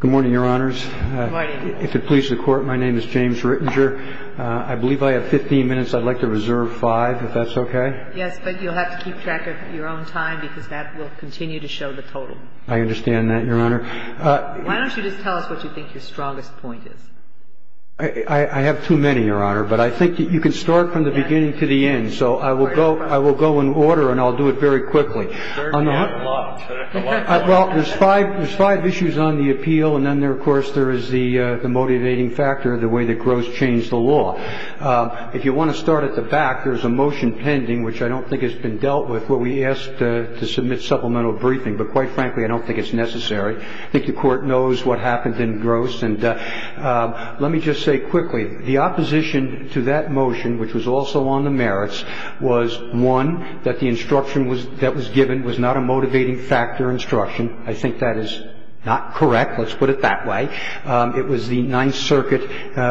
Good morning, Your Honors. If it pleases the Court, my name is James Rittinger. I believe I have 15 minutes. I'd like to reserve five, if that's okay? Yes, but you'll have to keep track of your own time because that will continue to show the total. I understand that, Your Honor. Why don't you just tell us what you think your strongest point is? I have too many, Your Honor, but I think you can start from the beginning to the end, so I will go in order and I'll do it very quickly. Well, there's five issues on the appeal, and then, of course, there is the motivating factor, the way that Gross changed the law. If you want to start at the back, there's a motion pending, which I don't think has been dealt with, where we asked to submit supplemental briefing. But, quite frankly, I don't think it's necessary. I think the Court knows what happened in Gross. Let me just say quickly, the opposition to that motion, which was also on the merits, was, one, that the instruction that was given was not a motivating factor instruction. I think that is not correct. Let's put it that way. It was the Ninth Circuit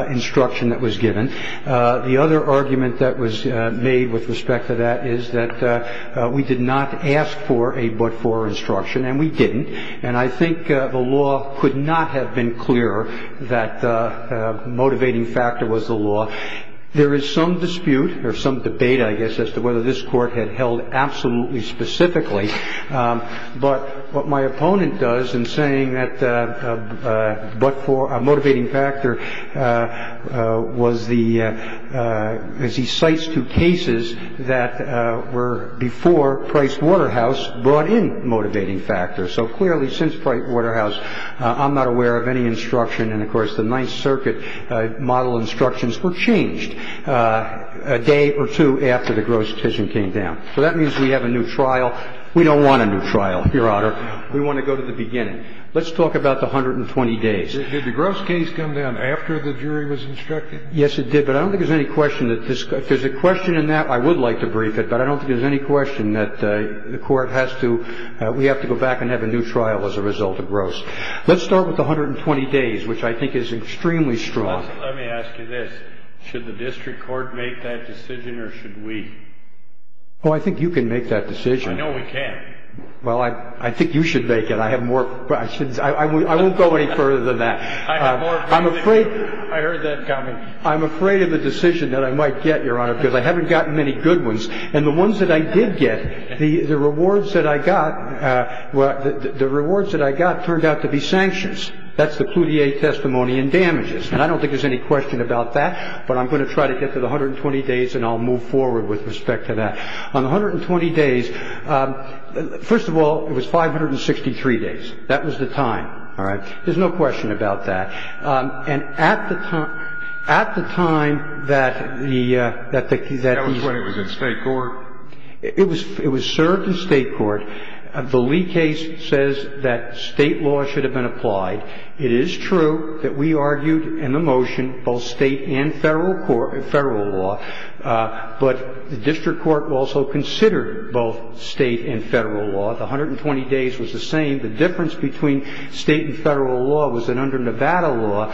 instruction that was given. The other argument that was made with respect to that is that we did not ask for a but-for instruction, and we didn't. And I think the law could not have been clearer that the motivating factor was the law. There is some dispute, or some debate, I guess, as to whether this Court had held absolutely specifically. But what my opponent does in saying that a but-for, a motivating factor, was he cites two cases that were before Price-Waterhouse brought in motivating factors. So, clearly, since Price-Waterhouse, I'm not aware of any instruction. And, of course, the Ninth Circuit model instructions were changed a day or two after the Gross decision came down. So that means we have a new trial. We don't want a new trial, Your Honor. We want to go to the beginning. Let's talk about the 120 days. Did the Gross case come down after the jury was instructed? Yes, it did. But I don't think there's any question that this — if there's a question in that, I would like to brief it. But I don't think there's any question that the Court has to — we have to go back and have a new trial as a result of Gross. Let's start with the 120 days, which I think is extremely strong. Let me ask you this. Should the district court make that decision, or should we? Oh, I think you can make that decision. I know we can. Well, I think you should make it. I have more questions. I won't go any further than that. I have more questions. I'm afraid — I heard that coming. I'm afraid of the decision that I might get, Your Honor, because I haven't gotten many good ones. And the ones that I did get, the rewards that I got — the rewards that I got turned out to be sanctions. That's the Cloutier testimony in damages. And I don't think there's any question about that. But I'm going to try to get to the 120 days, and I'll move forward with respect to that. On the 120 days, first of all, it was 563 days. That was the time. All right? There's no question about that. And at the time — at the time that the — That was when it was in State court? It was — it was served in State court. The Lee case says that State law should have been applied. It is true that we argued in the motion both State and federal court — federal law. But the district court also considered both State and federal law. The 120 days was the same. The difference between State and federal law was that under Nevada law,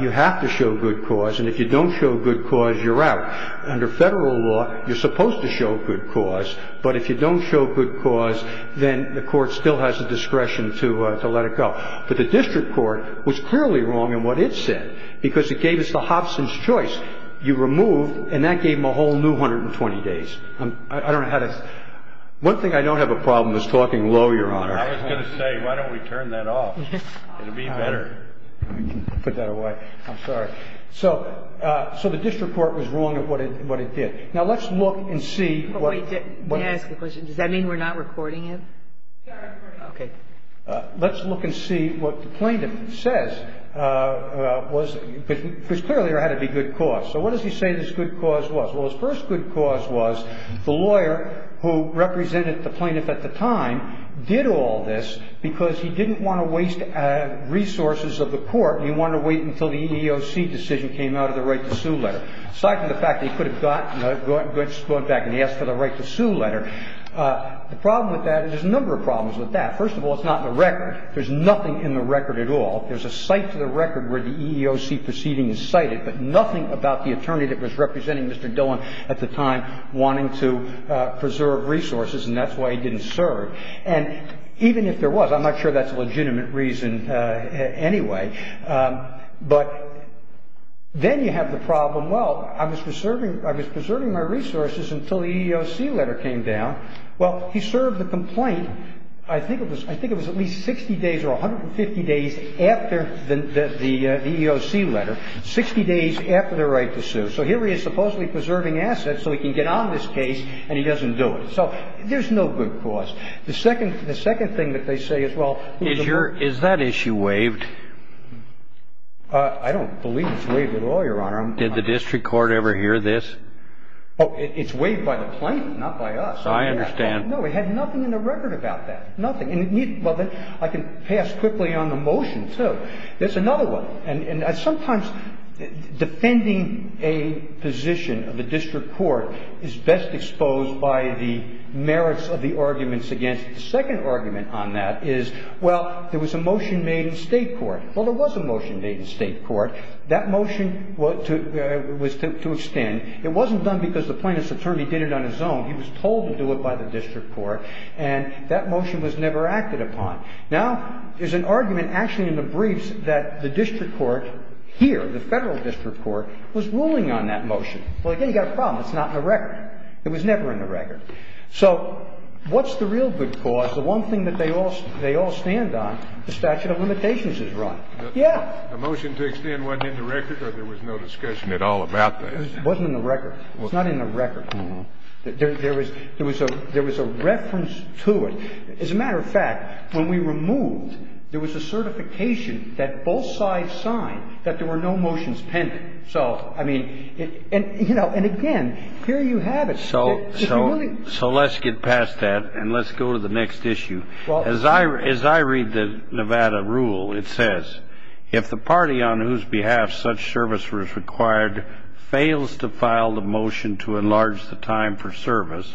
you have to show good cause. And if you don't show good cause, you're out. Under federal law, you're supposed to show good cause. But if you don't show good cause, then the court still has the discretion to let it go. But the district court was clearly wrong in what it said, because it gave us the Hobson's choice. You removed, and that gave them a whole new 120 days. I don't know how to — one thing I don't have a problem with is talking low, Your Honor. I was going to say, why don't we turn that off? It would be better. Put that away. I'm sorry. So the district court was wrong at what it did. Now, let's look and see what — Wait. May I ask a question? Does that mean we're not recording it? We are recording it. Okay. Let's look and see what the plaintiff says, because clearly there had to be good cause. So what does he say this good cause was? Well, his first good cause was the lawyer who represented the plaintiff at the time did all this because he didn't want to waste resources of the court. He wanted to wait until the EEOC decision came out of the right-to-sue letter. Aside from the fact that he could have gone back and asked for the right-to-sue letter. The problem with that — there's a number of problems with that. First of all, it's not in the record. There's nothing in the record at all. There's a cite to the record where the EEOC proceeding is cited, but nothing about the attorney that was representing Mr. Dillon at the time wanting to preserve resources, and that's why he didn't serve. And even if there was, I'm not sure that's a legitimate reason anyway. But then you have the problem, well, I was preserving my resources until the EEOC letter came down. Well, he served the complaint, I think it was at least 60 days or 150 days after the EEOC letter, 60 days after the right-to-sue. So here he is supposedly preserving assets so he can get on this case and he doesn't do it. So there's no good cause. The second thing that they say is, well — Is that issue waived? I don't believe it's waived at all, Your Honor. Did the district court ever hear this? Oh, it's waived by the plaintiff, not by us. I understand. No, it had nothing in the record about that, nothing. Well, I can pass quickly on the motion, too. There's another one. And sometimes defending a position of the district court is best exposed by the merits of the arguments against it. The second argument on that is, well, there was a motion made in State court. Well, there was a motion made in State court. That motion was to extend. It wasn't done because the plaintiff's attorney did it on his own. He was told to do it by the district court. And that motion was never acted upon. Now, there's an argument actually in the briefs that the district court here, the Federal district court, was ruling on that motion. Well, again, you've got a problem. It's not in the record. It was never in the record. So what's the real good cause? The one thing that they all stand on, the statute of limitations is wrong. Yes. The motion to extend wasn't in the record or there was no discussion at all about that? It wasn't in the record. It's not in the record. There was a reference to it. As a matter of fact, when we removed, there was a certification that both sides signed that there were no motions pending. So, I mean, you know, and again, here you have it. So let's get past that and let's go to the next issue. As I read the Nevada rule, it says, if the party on whose behalf such service was required fails to file the motion to enlarge the time for service,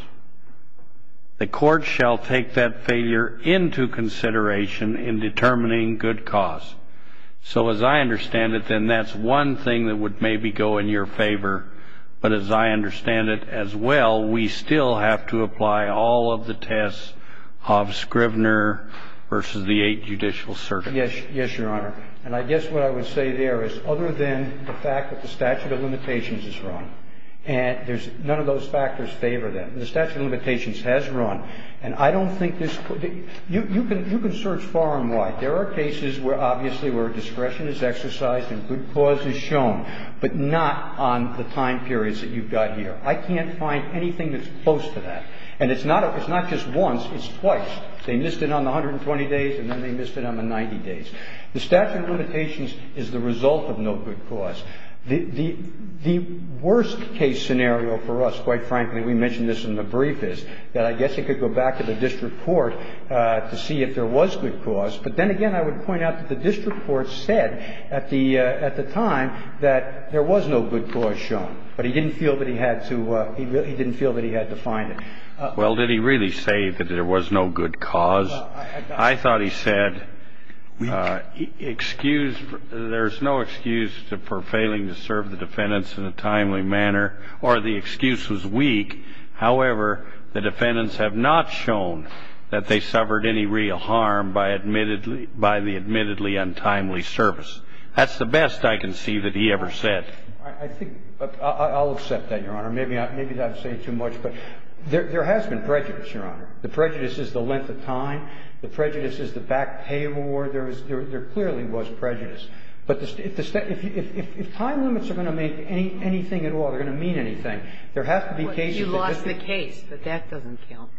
the court shall take that failure into consideration in determining good cause. So as I understand it, then that's one thing that would maybe go in your favor. But as I understand it as well, we still have to apply all of the tests of Scrivener versus the Eight Judicial Circuit. Yes, Your Honor. And I guess what I would say there is other than the fact that the statute of limitations is wrong, and there's none of those factors favor them, the statute of limitations has run. And I don't think this could be you can you can search far and wide. There are cases where obviously where discretion is exercised and good cause is shown, but not on the time periods that you've got here. I can't find anything that's close to that. And it's not it's not just once. It's twice. They missed it on the 120 days and then they missed it on the 90 days. The statute of limitations is the result of no good cause. The worst case scenario for us, quite frankly, we mentioned this in the brief, is that I guess it could go back to the district court to see if there was good cause. But then again, I would point out that the district court said at the time that there was no good cause shown. But he didn't feel that he had to he didn't feel that he had to find it. Well, did he really say that there was no good cause? I thought he said excuse. There's no excuse for failing to serve the defendants in a timely manner or the excuse was weak. However, the defendants have not shown that they suffered any real harm by admittedly by the admittedly untimely service. That's the best I can see that he ever said. I think I'll accept that. Your Honor, maybe I've said too much, but there has been prejudice, Your Honor. The prejudice is the length of time. The prejudice is the back pay award. There clearly was prejudice. But if time limits are going to make anything at all, they're going to mean anything, there has to be cases that You lost the case, but that doesn't count.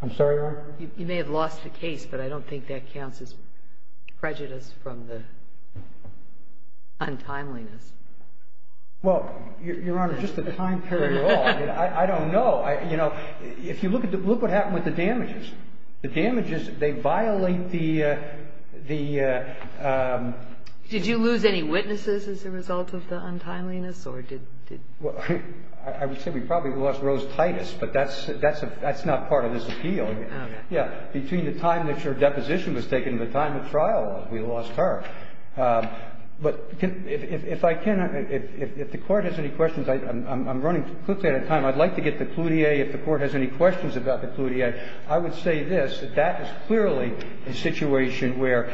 I'm sorry, Your Honor? You may have lost the case, but I don't think that counts as prejudice from the untimeliness. Well, Your Honor, just the time period at all, I don't know. You know, if you look at the – look what happened with the damages. The damages, they violate the – Did you lose any witnesses as a result of the untimeliness or did – Well, I would say we probably lost Rose Titus, but that's not part of his appeal. Okay. Yeah. Between the time that your deposition was taken and the time of trial, we lost her. But if I can – if the Court has any questions, I'm running quickly out of time. I'd like to get the cludea. If the Court has any questions about the cludea, I would say this, that that is clearly a situation where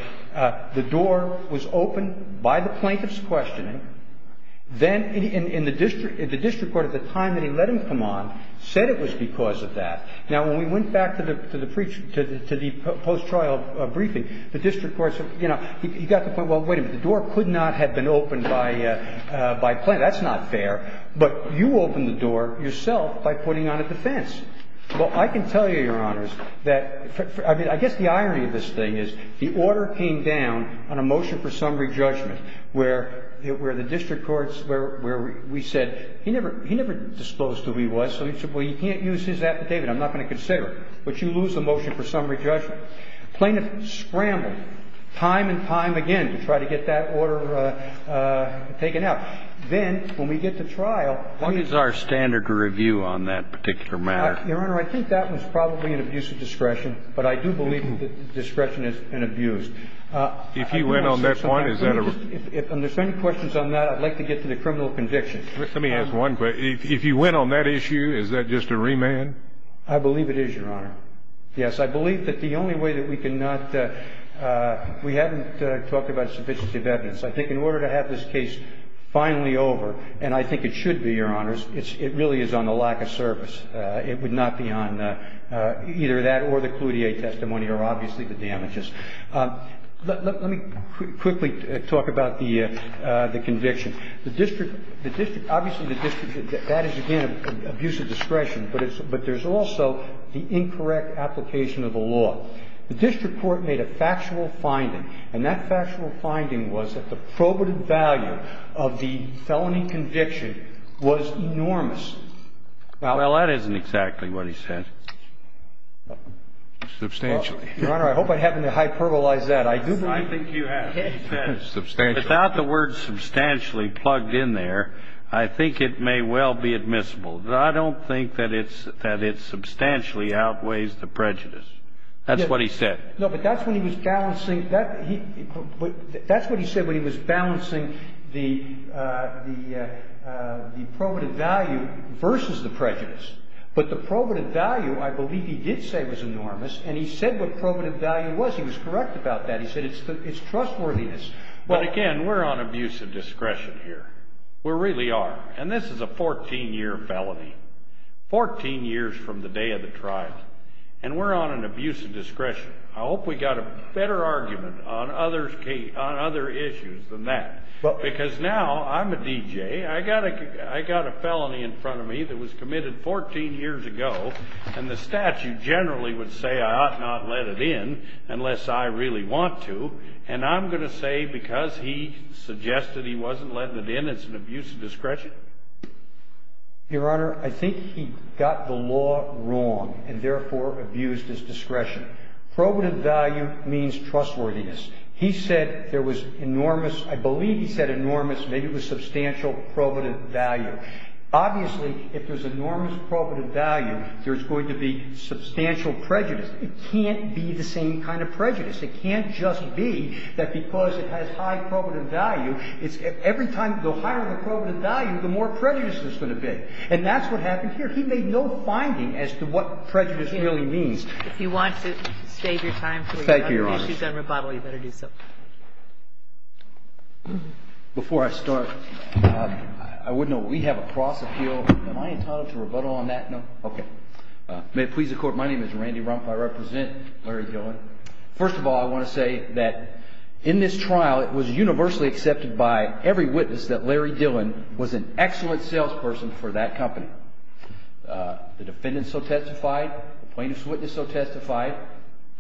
the door was opened by the plaintiff's questioning. Then the district court at the time that he let him come on said it was because of that. Now, when we went back to the post-trial briefing, the district court said, you know, he got the point, well, wait a minute. The door could not have been opened by plaintiff. That's not fair. But you opened the door yourself by putting on a defense. Well, I can tell you, Your Honors, that – I mean, I guess the irony of this thing is the order came down on a motion for summary judgment where the district courts – where we said he never disclosed who he was, so he said, well, you can't use his affidavit. I'm not going to consider it. But you lose the motion for summary judgment. Now, plaintiff scrambled time and time again to try to get that order taken out. Then when we get to trial – What is our standard review on that particular matter? Your Honor, I think that was probably an abuse of discretion. But I do believe that discretion is an abuse. If you went on that point, is that a – If there's any questions on that, I'd like to get to the criminal conviction. Let me ask one question. If you went on that issue, is that just a remand? I believe it is, Your Honor. Yes, I believe that the only way that we can not – we haven't talked about sufficiency of evidence. I think in order to have this case finally over, and I think it should be, Your Honors, it really is on the lack of service. It would not be on either that or the Cloutier testimony or obviously the damages. Let me quickly talk about the conviction. The district – the district – obviously, the district – that is, again, abuse of discretion. But there's also the incorrect application of the law. The district court made a factual finding. And that factual finding was that the probative value of the felony conviction was enormous. Well, that isn't exactly what he said. Substantially. Your Honor, I hope I haven't hyperbolized that. I do believe – I think you have. Substantially. Without the word substantially plugged in there, I think it may well be admissible. I don't think that it substantially outweighs the prejudice. That's what he said. No, but that's when he was balancing – that's what he said when he was balancing the probative value versus the prejudice. But the probative value, I believe he did say was enormous. And he said what probative value was. He was correct about that. He said it's trustworthiness. But, again, we're on abuse of discretion here. We really are. And this is a 14-year felony. Fourteen years from the day of the trial. And we're on an abuse of discretion. I hope we got a better argument on other issues than that. Because now I'm a DJ. I got a felony in front of me that was committed 14 years ago. And the statute generally would say I ought not let it in unless I really want to. And I'm going to say because he suggested he wasn't letting it in, it's an abuse of discretion? Your Honor, I think he got the law wrong and, therefore, abused his discretion. Probative value means trustworthiness. He said there was enormous – I believe he said enormous. Maybe it was substantial probative value. Obviously, if there's enormous probative value, there's going to be substantial prejudice. It can't be the same kind of prejudice. It can't just be that because it has high probative value, every time you go higher in the probative value, the more prejudiced it's going to be. And that's what happened here. He made no finding as to what prejudice really means. If you want to save your time for other issues on rebuttal, you better do so. Thank you, Your Honor. Before I start, I would note we have a cross appeal. Am I entitled to rebuttal on that? No? Okay. May it please the Court, my name is Randy Rumpf. I represent Larry Dillon. First of all, I want to say that in this trial, it was universally accepted by every witness that Larry Dillon was an excellent salesperson for that company. The defendant so testified. The plaintiff's witness so testified.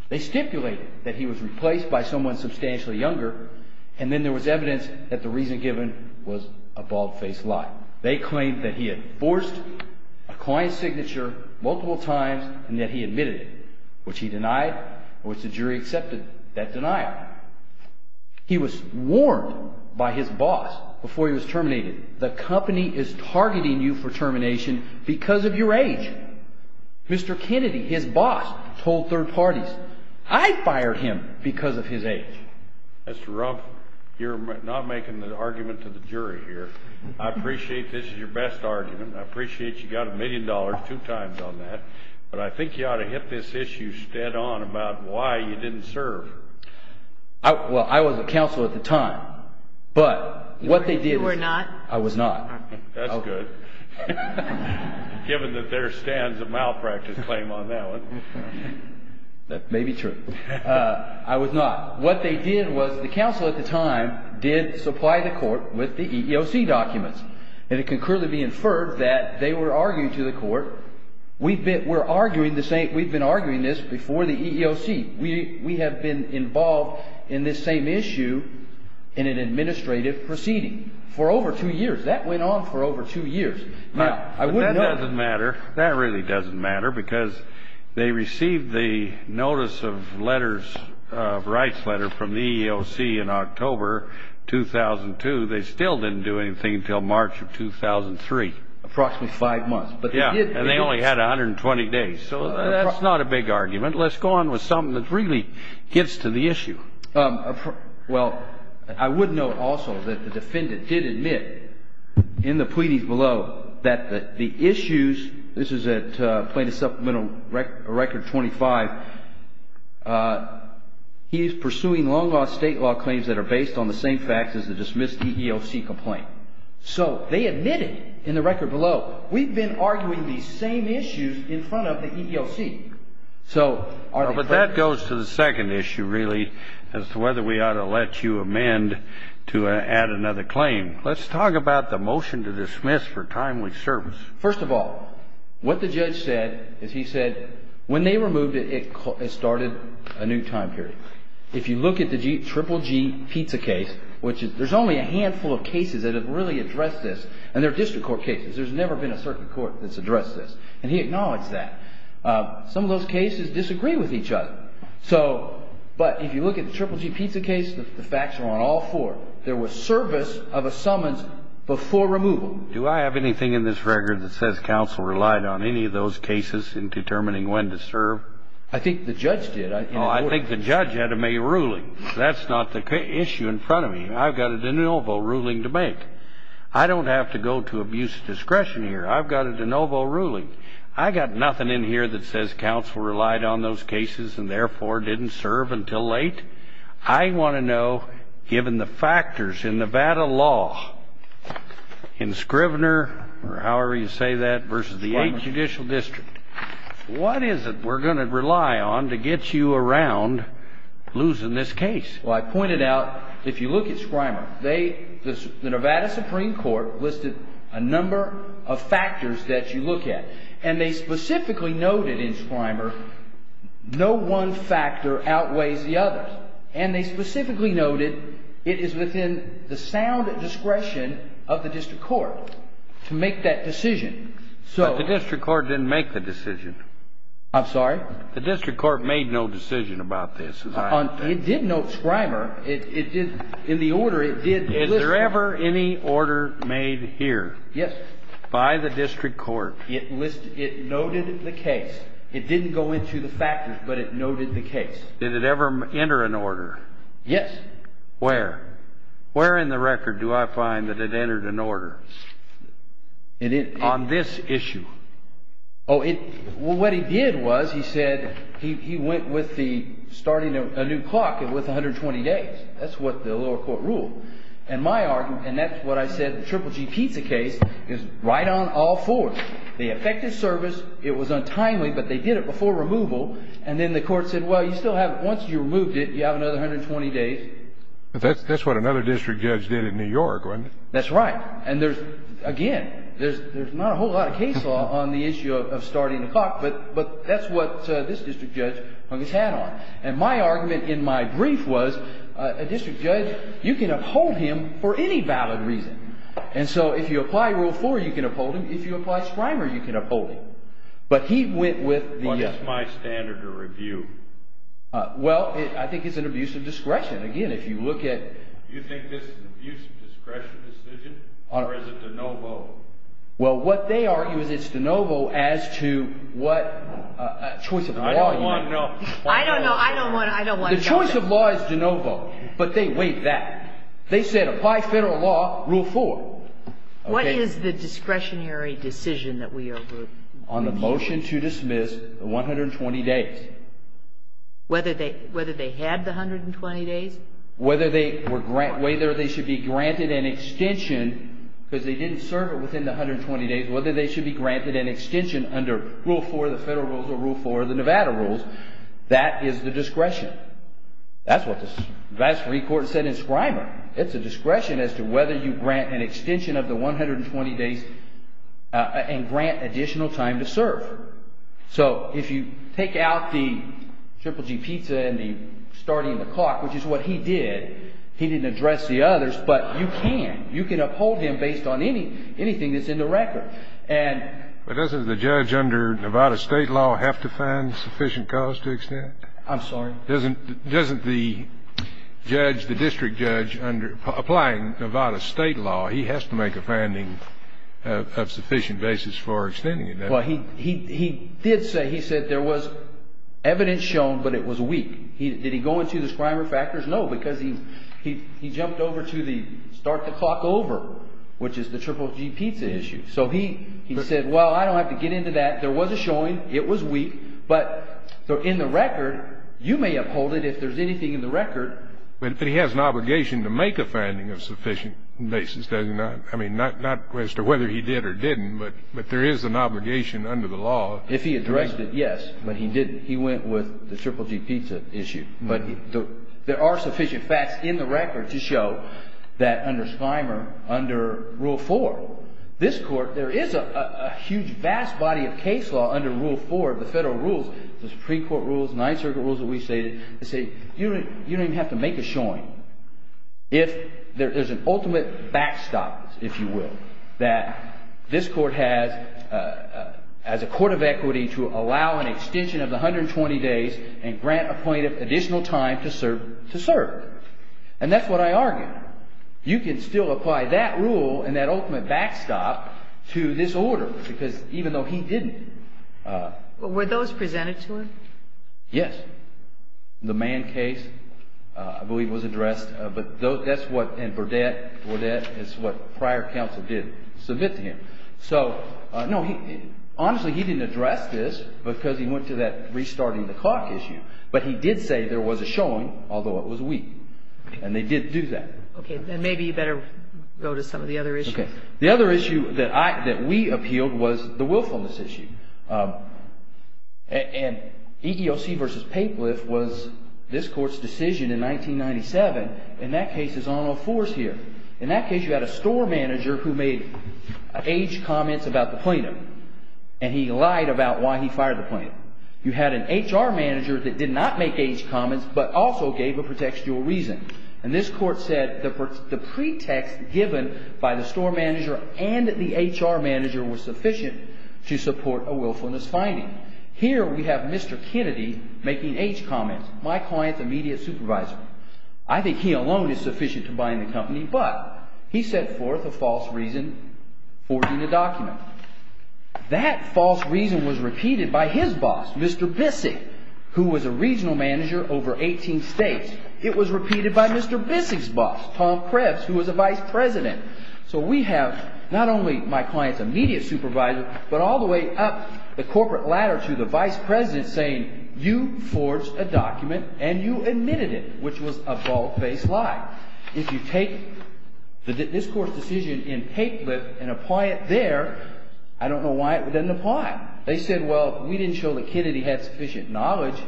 They stipulated that he was replaced by someone substantially younger, and then there was evidence that the reason given was a bald-faced lie. They claimed that he had forged a client's signature multiple times and that he admitted it, which he denied and which the jury accepted that denial. He was warned by his boss before he was terminated, the company is targeting you for termination because of your age. Mr. Kennedy, his boss, told third parties, I fired him because of his age. Mr. Rumpf, you're not making an argument to the jury here. I appreciate this is your best argument. I appreciate you got a million dollars two times on that. But I think you ought to hit this issue stead on about why you didn't serve. Well, I was a counsel at the time. But what they did was... You were not? I was not. That's good, given that there stands a malpractice claim on that one. That may be true. I was not. What they did was the counsel at the time did supply the court with the EEOC documents, and it can clearly be inferred that they were arguing to the court, we've been arguing this before the EEOC. We have been involved in this same issue in an administrative proceeding for over two years. That went on for over two years. Now, that doesn't matter. That really doesn't matter because they received the notice of letters, a rights letter from the EEOC in October 2002. They still didn't do anything until March of 2003. Approximately five months. Yeah, and they only had 120 days. So that's not a big argument. Let's go on with something that really gets to the issue. Well, I would note also that the defendant did admit in the pleadings below that the issues, this is at plaintiff's supplemental record 25, he is pursuing long-lost state law claims that are based on the same facts as the dismissed EEOC complaint. So they admitted in the record below, we've been arguing these same issues in front of the EEOC. But that goes to the second issue, really, as to whether we ought to let you amend to add another claim. Let's talk about the motion to dismiss for timely service. First of all, what the judge said is he said when they removed it, it started a new time period. If you look at the GGG pizza case, which there's only a handful of cases that have really addressed this, and they're district court cases. There's never been a circuit court that's addressed this. And he acknowledged that. Some of those cases disagree with each other. But if you look at the GGG pizza case, the facts are on all four. There was service of a summons before removal. Do I have anything in this record that says counsel relied on any of those cases in determining when to serve? I think the judge did. Oh, I think the judge had to make a ruling. That's not the issue in front of me. I've got a de novo ruling to make. I don't have to go to abuse of discretion here. I've got a de novo ruling. I've got nothing in here that says counsel relied on those cases and, therefore, didn't serve until late. I want to know, given the factors in Nevada law, in Scrivener, or however you say that, versus the 8th Judicial District, what is it we're going to rely on to get you around losing this case? Well, I pointed out, if you look at Scrivener, the Nevada Supreme Court listed a number of factors that you look at. And they specifically noted in Scrivener no one factor outweighs the other. And they specifically noted it is within the sound discretion of the district court to make that decision. But the district court didn't make the decision. I'm sorry? The district court made no decision about this. It did note Scrivener. In the order, it did list it. Is there ever any order made here by the district court? It noted the case. It didn't go into the factors, but it noted the case. Did it ever enter an order? Yes. Where? Where in the record do I find that it entered an order? On this issue. Well, what he did was he said he went with the starting a new clock with 120 days. That's what the lower court ruled. And my argument, and that's what I said, the Triple G pizza case is right on all fours. They effected service. It was untimely, but they did it before removal. And then the court said, well, you still have it. Once you removed it, you have another 120 days. But that's what another district judge did in New York, wasn't it? That's right. And there's, again, there's not a whole lot of case law on the issue of starting the clock. But that's what this district judge hung his hat on. And my argument in my brief was a district judge, you can uphold him for any valid reason. And so if you apply Rule 4, you can uphold him. If you apply Scrimer, you can uphold him. But he went with the other. What is my standard of review? Well, I think it's an abuse of discretion. Again, if you look at... Do you think this is an abuse of discretion decision or is it de novo? Well, what they argue is it's de novo as to what choice of law you have. I don't want to know. I don't know. I don't want to know. The choice of law is de novo. But they weighed that. They said apply federal law, Rule 4. What is the discretionary decision that we are reviewing? On the motion to dismiss the 120 days. Whether they had the 120 days? Whether they should be granted an extension because they didn't serve it within the 120 days. Whether they should be granted an extension under Rule 4, the federal rules, or Rule 4, the Nevada rules. That is the discretion. That's what the advisory court said in Scrimer. It's a discretion as to whether you grant an extension of the 120 days and grant additional time to serve. So if you take out the triple G pizza and the starting the clock, which is what he did. He didn't address the others. But you can. You can uphold him based on anything that's in the record. But doesn't the judge under Nevada state law have to find sufficient cause to extend? I'm sorry? Doesn't the judge, the district judge, applying Nevada state law, he has to make a finding of sufficient basis for extending it? Well, he did say, he said there was evidence shown, but it was weak. Did he go into the Scrimer factors? No, because he jumped over to the start the clock over, which is the triple G pizza issue. So he said, well, I don't have to get into that. There was a showing. It was weak. But in the record, you may uphold it if there's anything in the record. But he has an obligation to make a finding of sufficient basis, doesn't he? I mean, not as to whether he did or didn't, but there is an obligation under the law. If he addressed it, yes. But he didn't. He went with the triple G pizza issue. But there are sufficient facts in the record to show that under Scrimer, under Rule 4, this Court, there is a huge, vast body of case law under Rule 4 of the federal rules, the Supreme Court rules, Ninth Circuit rules that we've stated, that say you don't even have to make a showing. If there's an ultimate backstop, if you will, that this Court has as a court of equity to allow an extension of the 120 days and grant a plaintiff additional time to serve. And that's what I argue. You can still apply that rule and that ultimate backstop to this order, because even though he didn't. Were those presented to him? Yes. The Mann case, I believe, was addressed. But that's what – and Burdette. Burdette is what prior counsel did submit to him. No, honestly, he didn't address this because he went to that restarting the clock issue. But he did say there was a showing, although it was weak. And they did do that. Okay. Then maybe you better go to some of the other issues. The other issue that we appealed was the willfulness issue. And EEOC v. Papeliff was this Court's decision in 1997. In that case, it's on or off force here. In that case, you had a store manager who made age comments about the plaintiff. And he lied about why he fired the plaintiff. You had an HR manager that did not make age comments but also gave a pretextual reason. And this Court said the pretext given by the store manager and the HR manager was sufficient to support a willfulness finding. Here we have Mr. Kennedy making age comments, my client's immediate supervisor. I think he alone is sufficient to buying the company. But he set forth a false reason for forging a document. That false reason was repeated by his boss, Mr. Bissig, who was a regional manager over 18 states. It was repeated by Mr. Bissig's boss, Tom Krebs, who was a vice president. So we have not only my client's immediate supervisor but all the way up the corporate ladder to the vice president saying, you forged a document and you admitted it, which was a bald-faced lie. If you take this Court's decision in Paplet and apply it there, I don't know why it doesn't apply. They said, well, we didn't show that Kennedy had sufficient knowledge.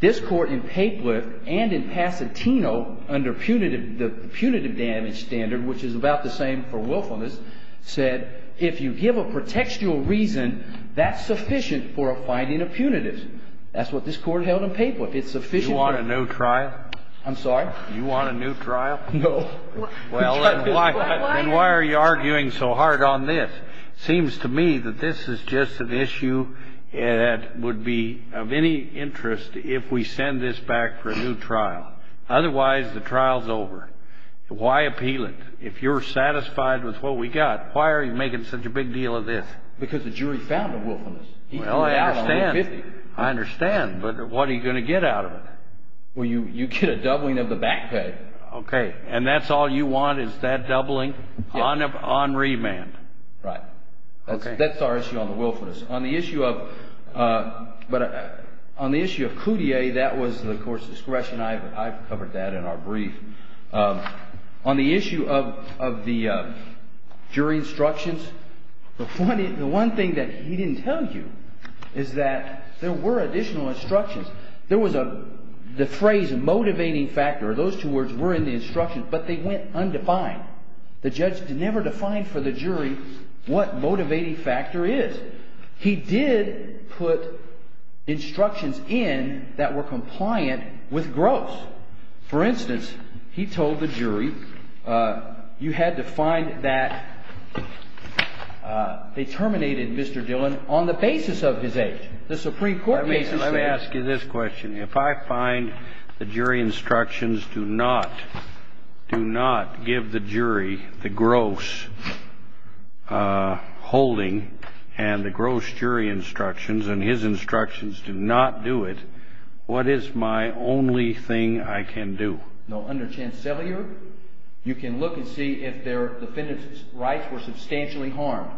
This Court in Paplet and in Pasatino under the punitive damage standard, which is about the same for willfulness, said if you give a pretextual reason, that's sufficient for a finding of punitive. That's what this Court held in Paplet. It's sufficient. Do you want a new trial? I'm sorry? Do you want a new trial? No. Well, then why are you arguing so hard on this? It seems to me that this is just an issue that would be of any interest if we send this back for a new trial. Otherwise, the trial's over. Why appeal it? If you're satisfied with what we got, why are you making such a big deal of this? Because the jury found a willfulness. Well, I understand. I understand, but what are you going to get out of it? Well, you get a doubling of the back pay. Okay, and that's all you want is that doubling on remand. Right. That's our issue on the willfulness. On the issue of Coutier, that was the Court's discretion. I covered that in our brief. On the issue of the jury instructions, the one thing that he didn't tell you is that there were additional instructions. There was the phrase motivating factor. Those two words were in the instructions, but they went undefined. The judge never defined for the jury what motivating factor is. He did put instructions in that were compliant with Gross. For instance, he told the jury you had to find that they terminated Mr. Dillon on the basis of his age. The Supreme Court made this statement. Let me ask you this question. If I find the jury instructions do not give the jury the Gross holding and the Gross jury instructions and his instructions do not do it, what is my only thing I can do? Now, under Chancellier, you can look and see if their defendant's rights were substantially harmed.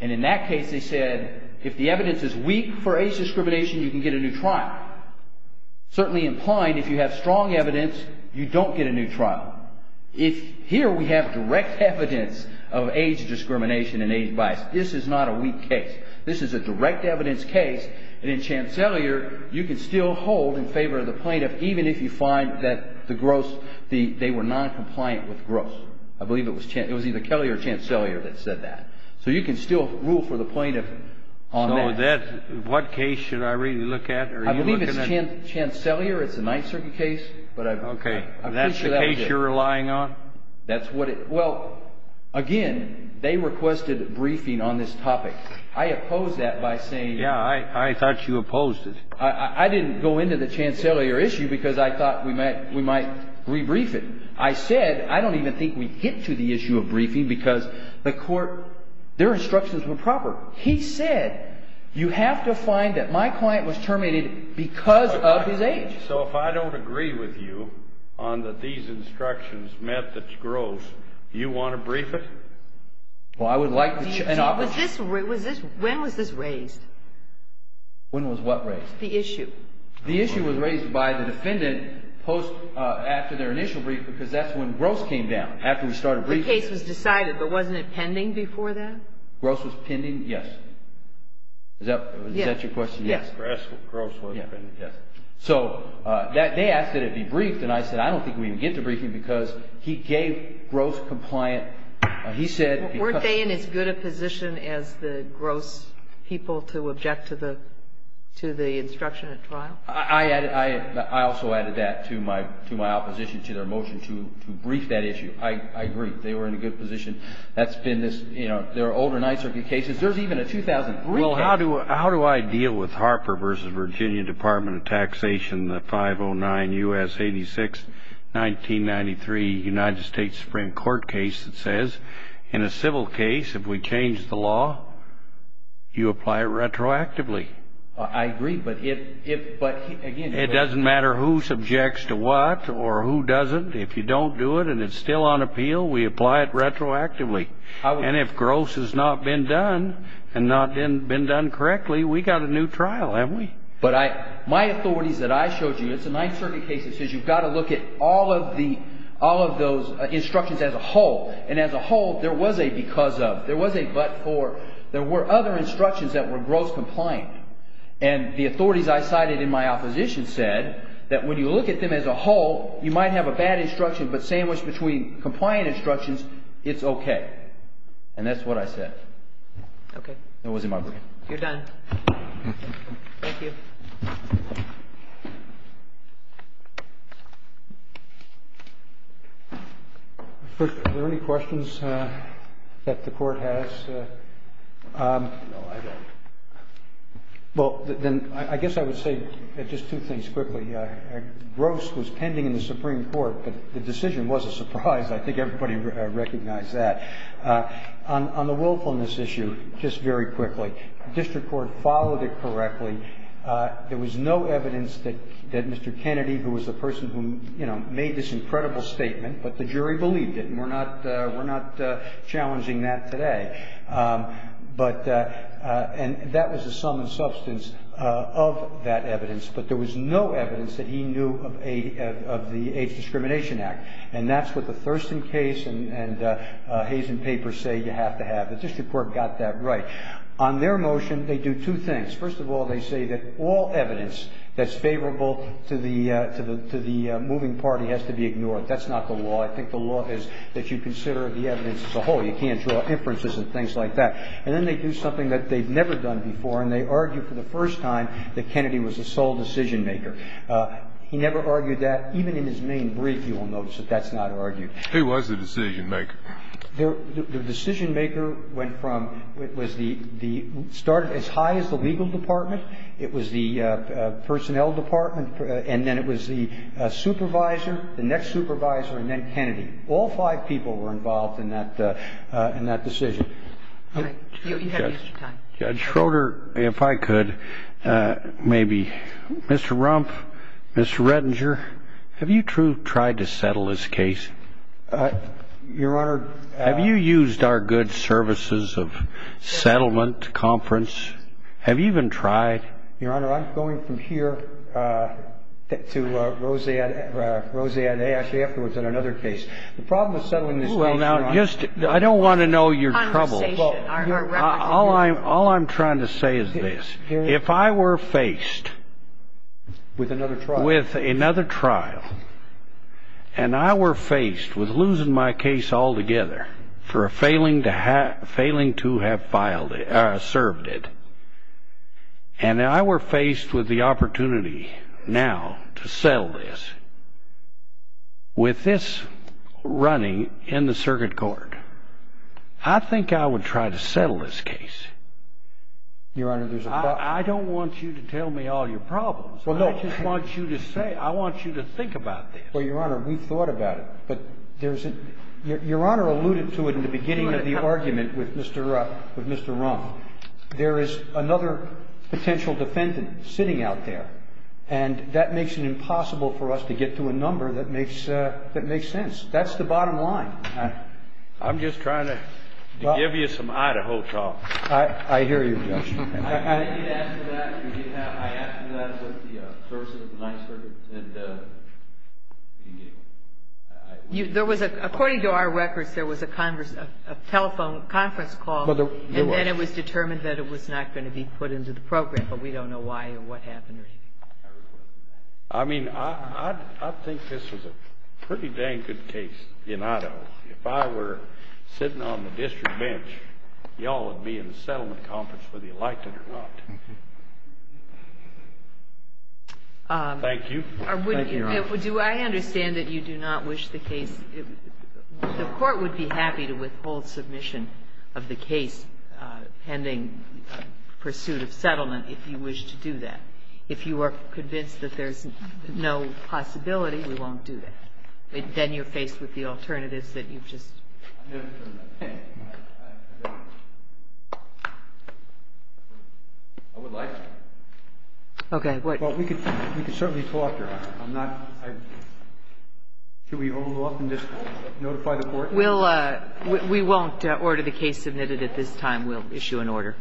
In that case, they said if the evidence is weak for age discrimination, you can get a new trial. Certainly implied, if you have strong evidence, you don't get a new trial. Here, we have direct evidence of age discrimination and age bias. This is not a weak case. This is a direct evidence case. In Chancellier, you can still hold in favor of the plaintiff even if you find that they were noncompliant with Gross. I believe it was either Kelly or Chancellier that said that. So you can still rule for the plaintiff on that. So what case should I really look at? I believe it's Chancellier. It's a Ninth Circuit case. Okay. That's the case you're relying on? That's what it – well, again, they requested a briefing on this topic. I opposed that by saying – Yeah, I thought you opposed it. I didn't go into the Chancellier issue because I thought we might rebrief it. I said I don't even think we'd get to the issue of briefing because the court – their instructions were proper. He said you have to find that my client was terminated because of his age. So if I don't agree with you on that these instructions met that's Gross, you want to brief it? Well, I would like an opportunity. When was this raised? When was what raised? The issue. The issue was raised by the defendant post – after their initial brief because that's when Gross came down, after we started briefing. The case was decided, but wasn't it pending before that? Gross was pending? Yes. Is that your question? Yes. Gross was pending. Yes. So they asked that it be briefed, and I said I don't think we can get to briefing because he gave Gross compliant. Weren't they in as good a position as the Gross people to object to the instruction at trial? I also added that to my opposition to their motion to brief that issue. I agree. They were in a good position. That's been this – there are older Ninth Circuit cases. There's even a 2003 case. How do I deal with Harper v. Virginia Department of Taxation, the 509 U.S. 86, 1993 United States Supreme Court case that says, in a civil case, if we change the law, you apply it retroactively? I agree, but if – but again – It doesn't matter who subjects to what or who doesn't. If you don't do it and it's still on appeal, we apply it retroactively. And if Gross has not been done and not been done correctly, we've got a new trial, haven't we? But I – my authorities that I showed you, it's a Ninth Circuit case that says you've got to look at all of the – all of those instructions as a whole. And as a whole, there was a because of. There was a but for. There were other instructions that were Gross compliant. And the authorities I cited in my opposition said that when you look at them as a whole, you might have a bad instruction, but sandwiched between compliant instructions, it's okay. And that's what I said. Okay. That wasn't my briefing. You're done. Thank you. Thank you. Are there any questions that the Court has? No, I don't. Well, then I guess I would say just two things quickly. Gross was pending in the Supreme Court, but the decision was a surprise. I think everybody recognized that. On the willfulness issue, just very quickly. The district court followed it correctly. There was no evidence that Mr. Kennedy, who was the person who, you know, made this incredible statement, but the jury believed it, and we're not challenging that today. But – and that was the sum and substance of that evidence. But there was no evidence that he knew of the Age Discrimination Act. And that's what the Thurston case and Hazen papers say you have to have. The district court got that right. On their motion, they do two things. First of all, they say that all evidence that's favorable to the moving party has to be ignored. That's not the law. I think the law is that you consider the evidence as a whole. You can't draw inferences and things like that. And then they do something that they've never done before, and they argue for the first time that Kennedy was the sole decision maker. He never argued that. Even in his main brief, you will notice that that's not argued. He was the decision maker. The decision maker went from – it was the – started as high as the legal department. It was the personnel department, and then it was the supervisor, the next supervisor, and then Kennedy. All five people were involved in that decision. All right. You have extra time. Judge Schroeder, if I could, maybe. Mr. Rumpf, Mr. Redinger, have you true tried to settle this case? Your Honor – Have you used our good services of settlement, conference? Have you even tried? Your Honor, I'm going from here to Roseanne A. actually afterwards on another case. The problem with settling this case, Your Honor – Well, now, just – I don't want to know your troubles. Conversation. All I'm trying to say is this. If I were faced – With another trial. With another trial, and I were faced with losing my case altogether for failing to have filed it – served it, and I were faced with the opportunity now to settle this with this running in the circuit court, I think I would try to settle this case. Your Honor, there's a – I don't want you to tell me all your problems. I just want you to say – I want you to think about this. Well, Your Honor, we've thought about it. But there's – Your Honor alluded to it in the beginning of the argument with Mr. Rumpf. There is another potential defendant sitting out there, and that makes it impossible for us to get to a number that makes sense. That's the bottom line. I'm just trying to give you some Idaho talk. I hear you, Judge. I did ask for that. I asked for that with the services of the Ninth Circuit, and we didn't get it. There was a – according to our records, there was a telephone conference call, and then it was determined that it was not going to be put into the program, but we don't know why or what happened or anything. I mean, I think this was a pretty dang good case in Idaho. If I were sitting on the district bench, you all would be in the settlement conference whether you liked it or not. Thank you, Your Honor. Do I understand that you do not wish the case – the court would be happy to withhold submission of the case pending pursuit of settlement if you wish to do that. If you are convinced that there's no possibility, we won't do that. Then you're faced with the alternatives that you've just – I would like to. Okay. Well, we could certainly talk, Your Honor. I'm not – should we hold off and just notify the court? We won't order the case submitted at this time. We'll issue an order.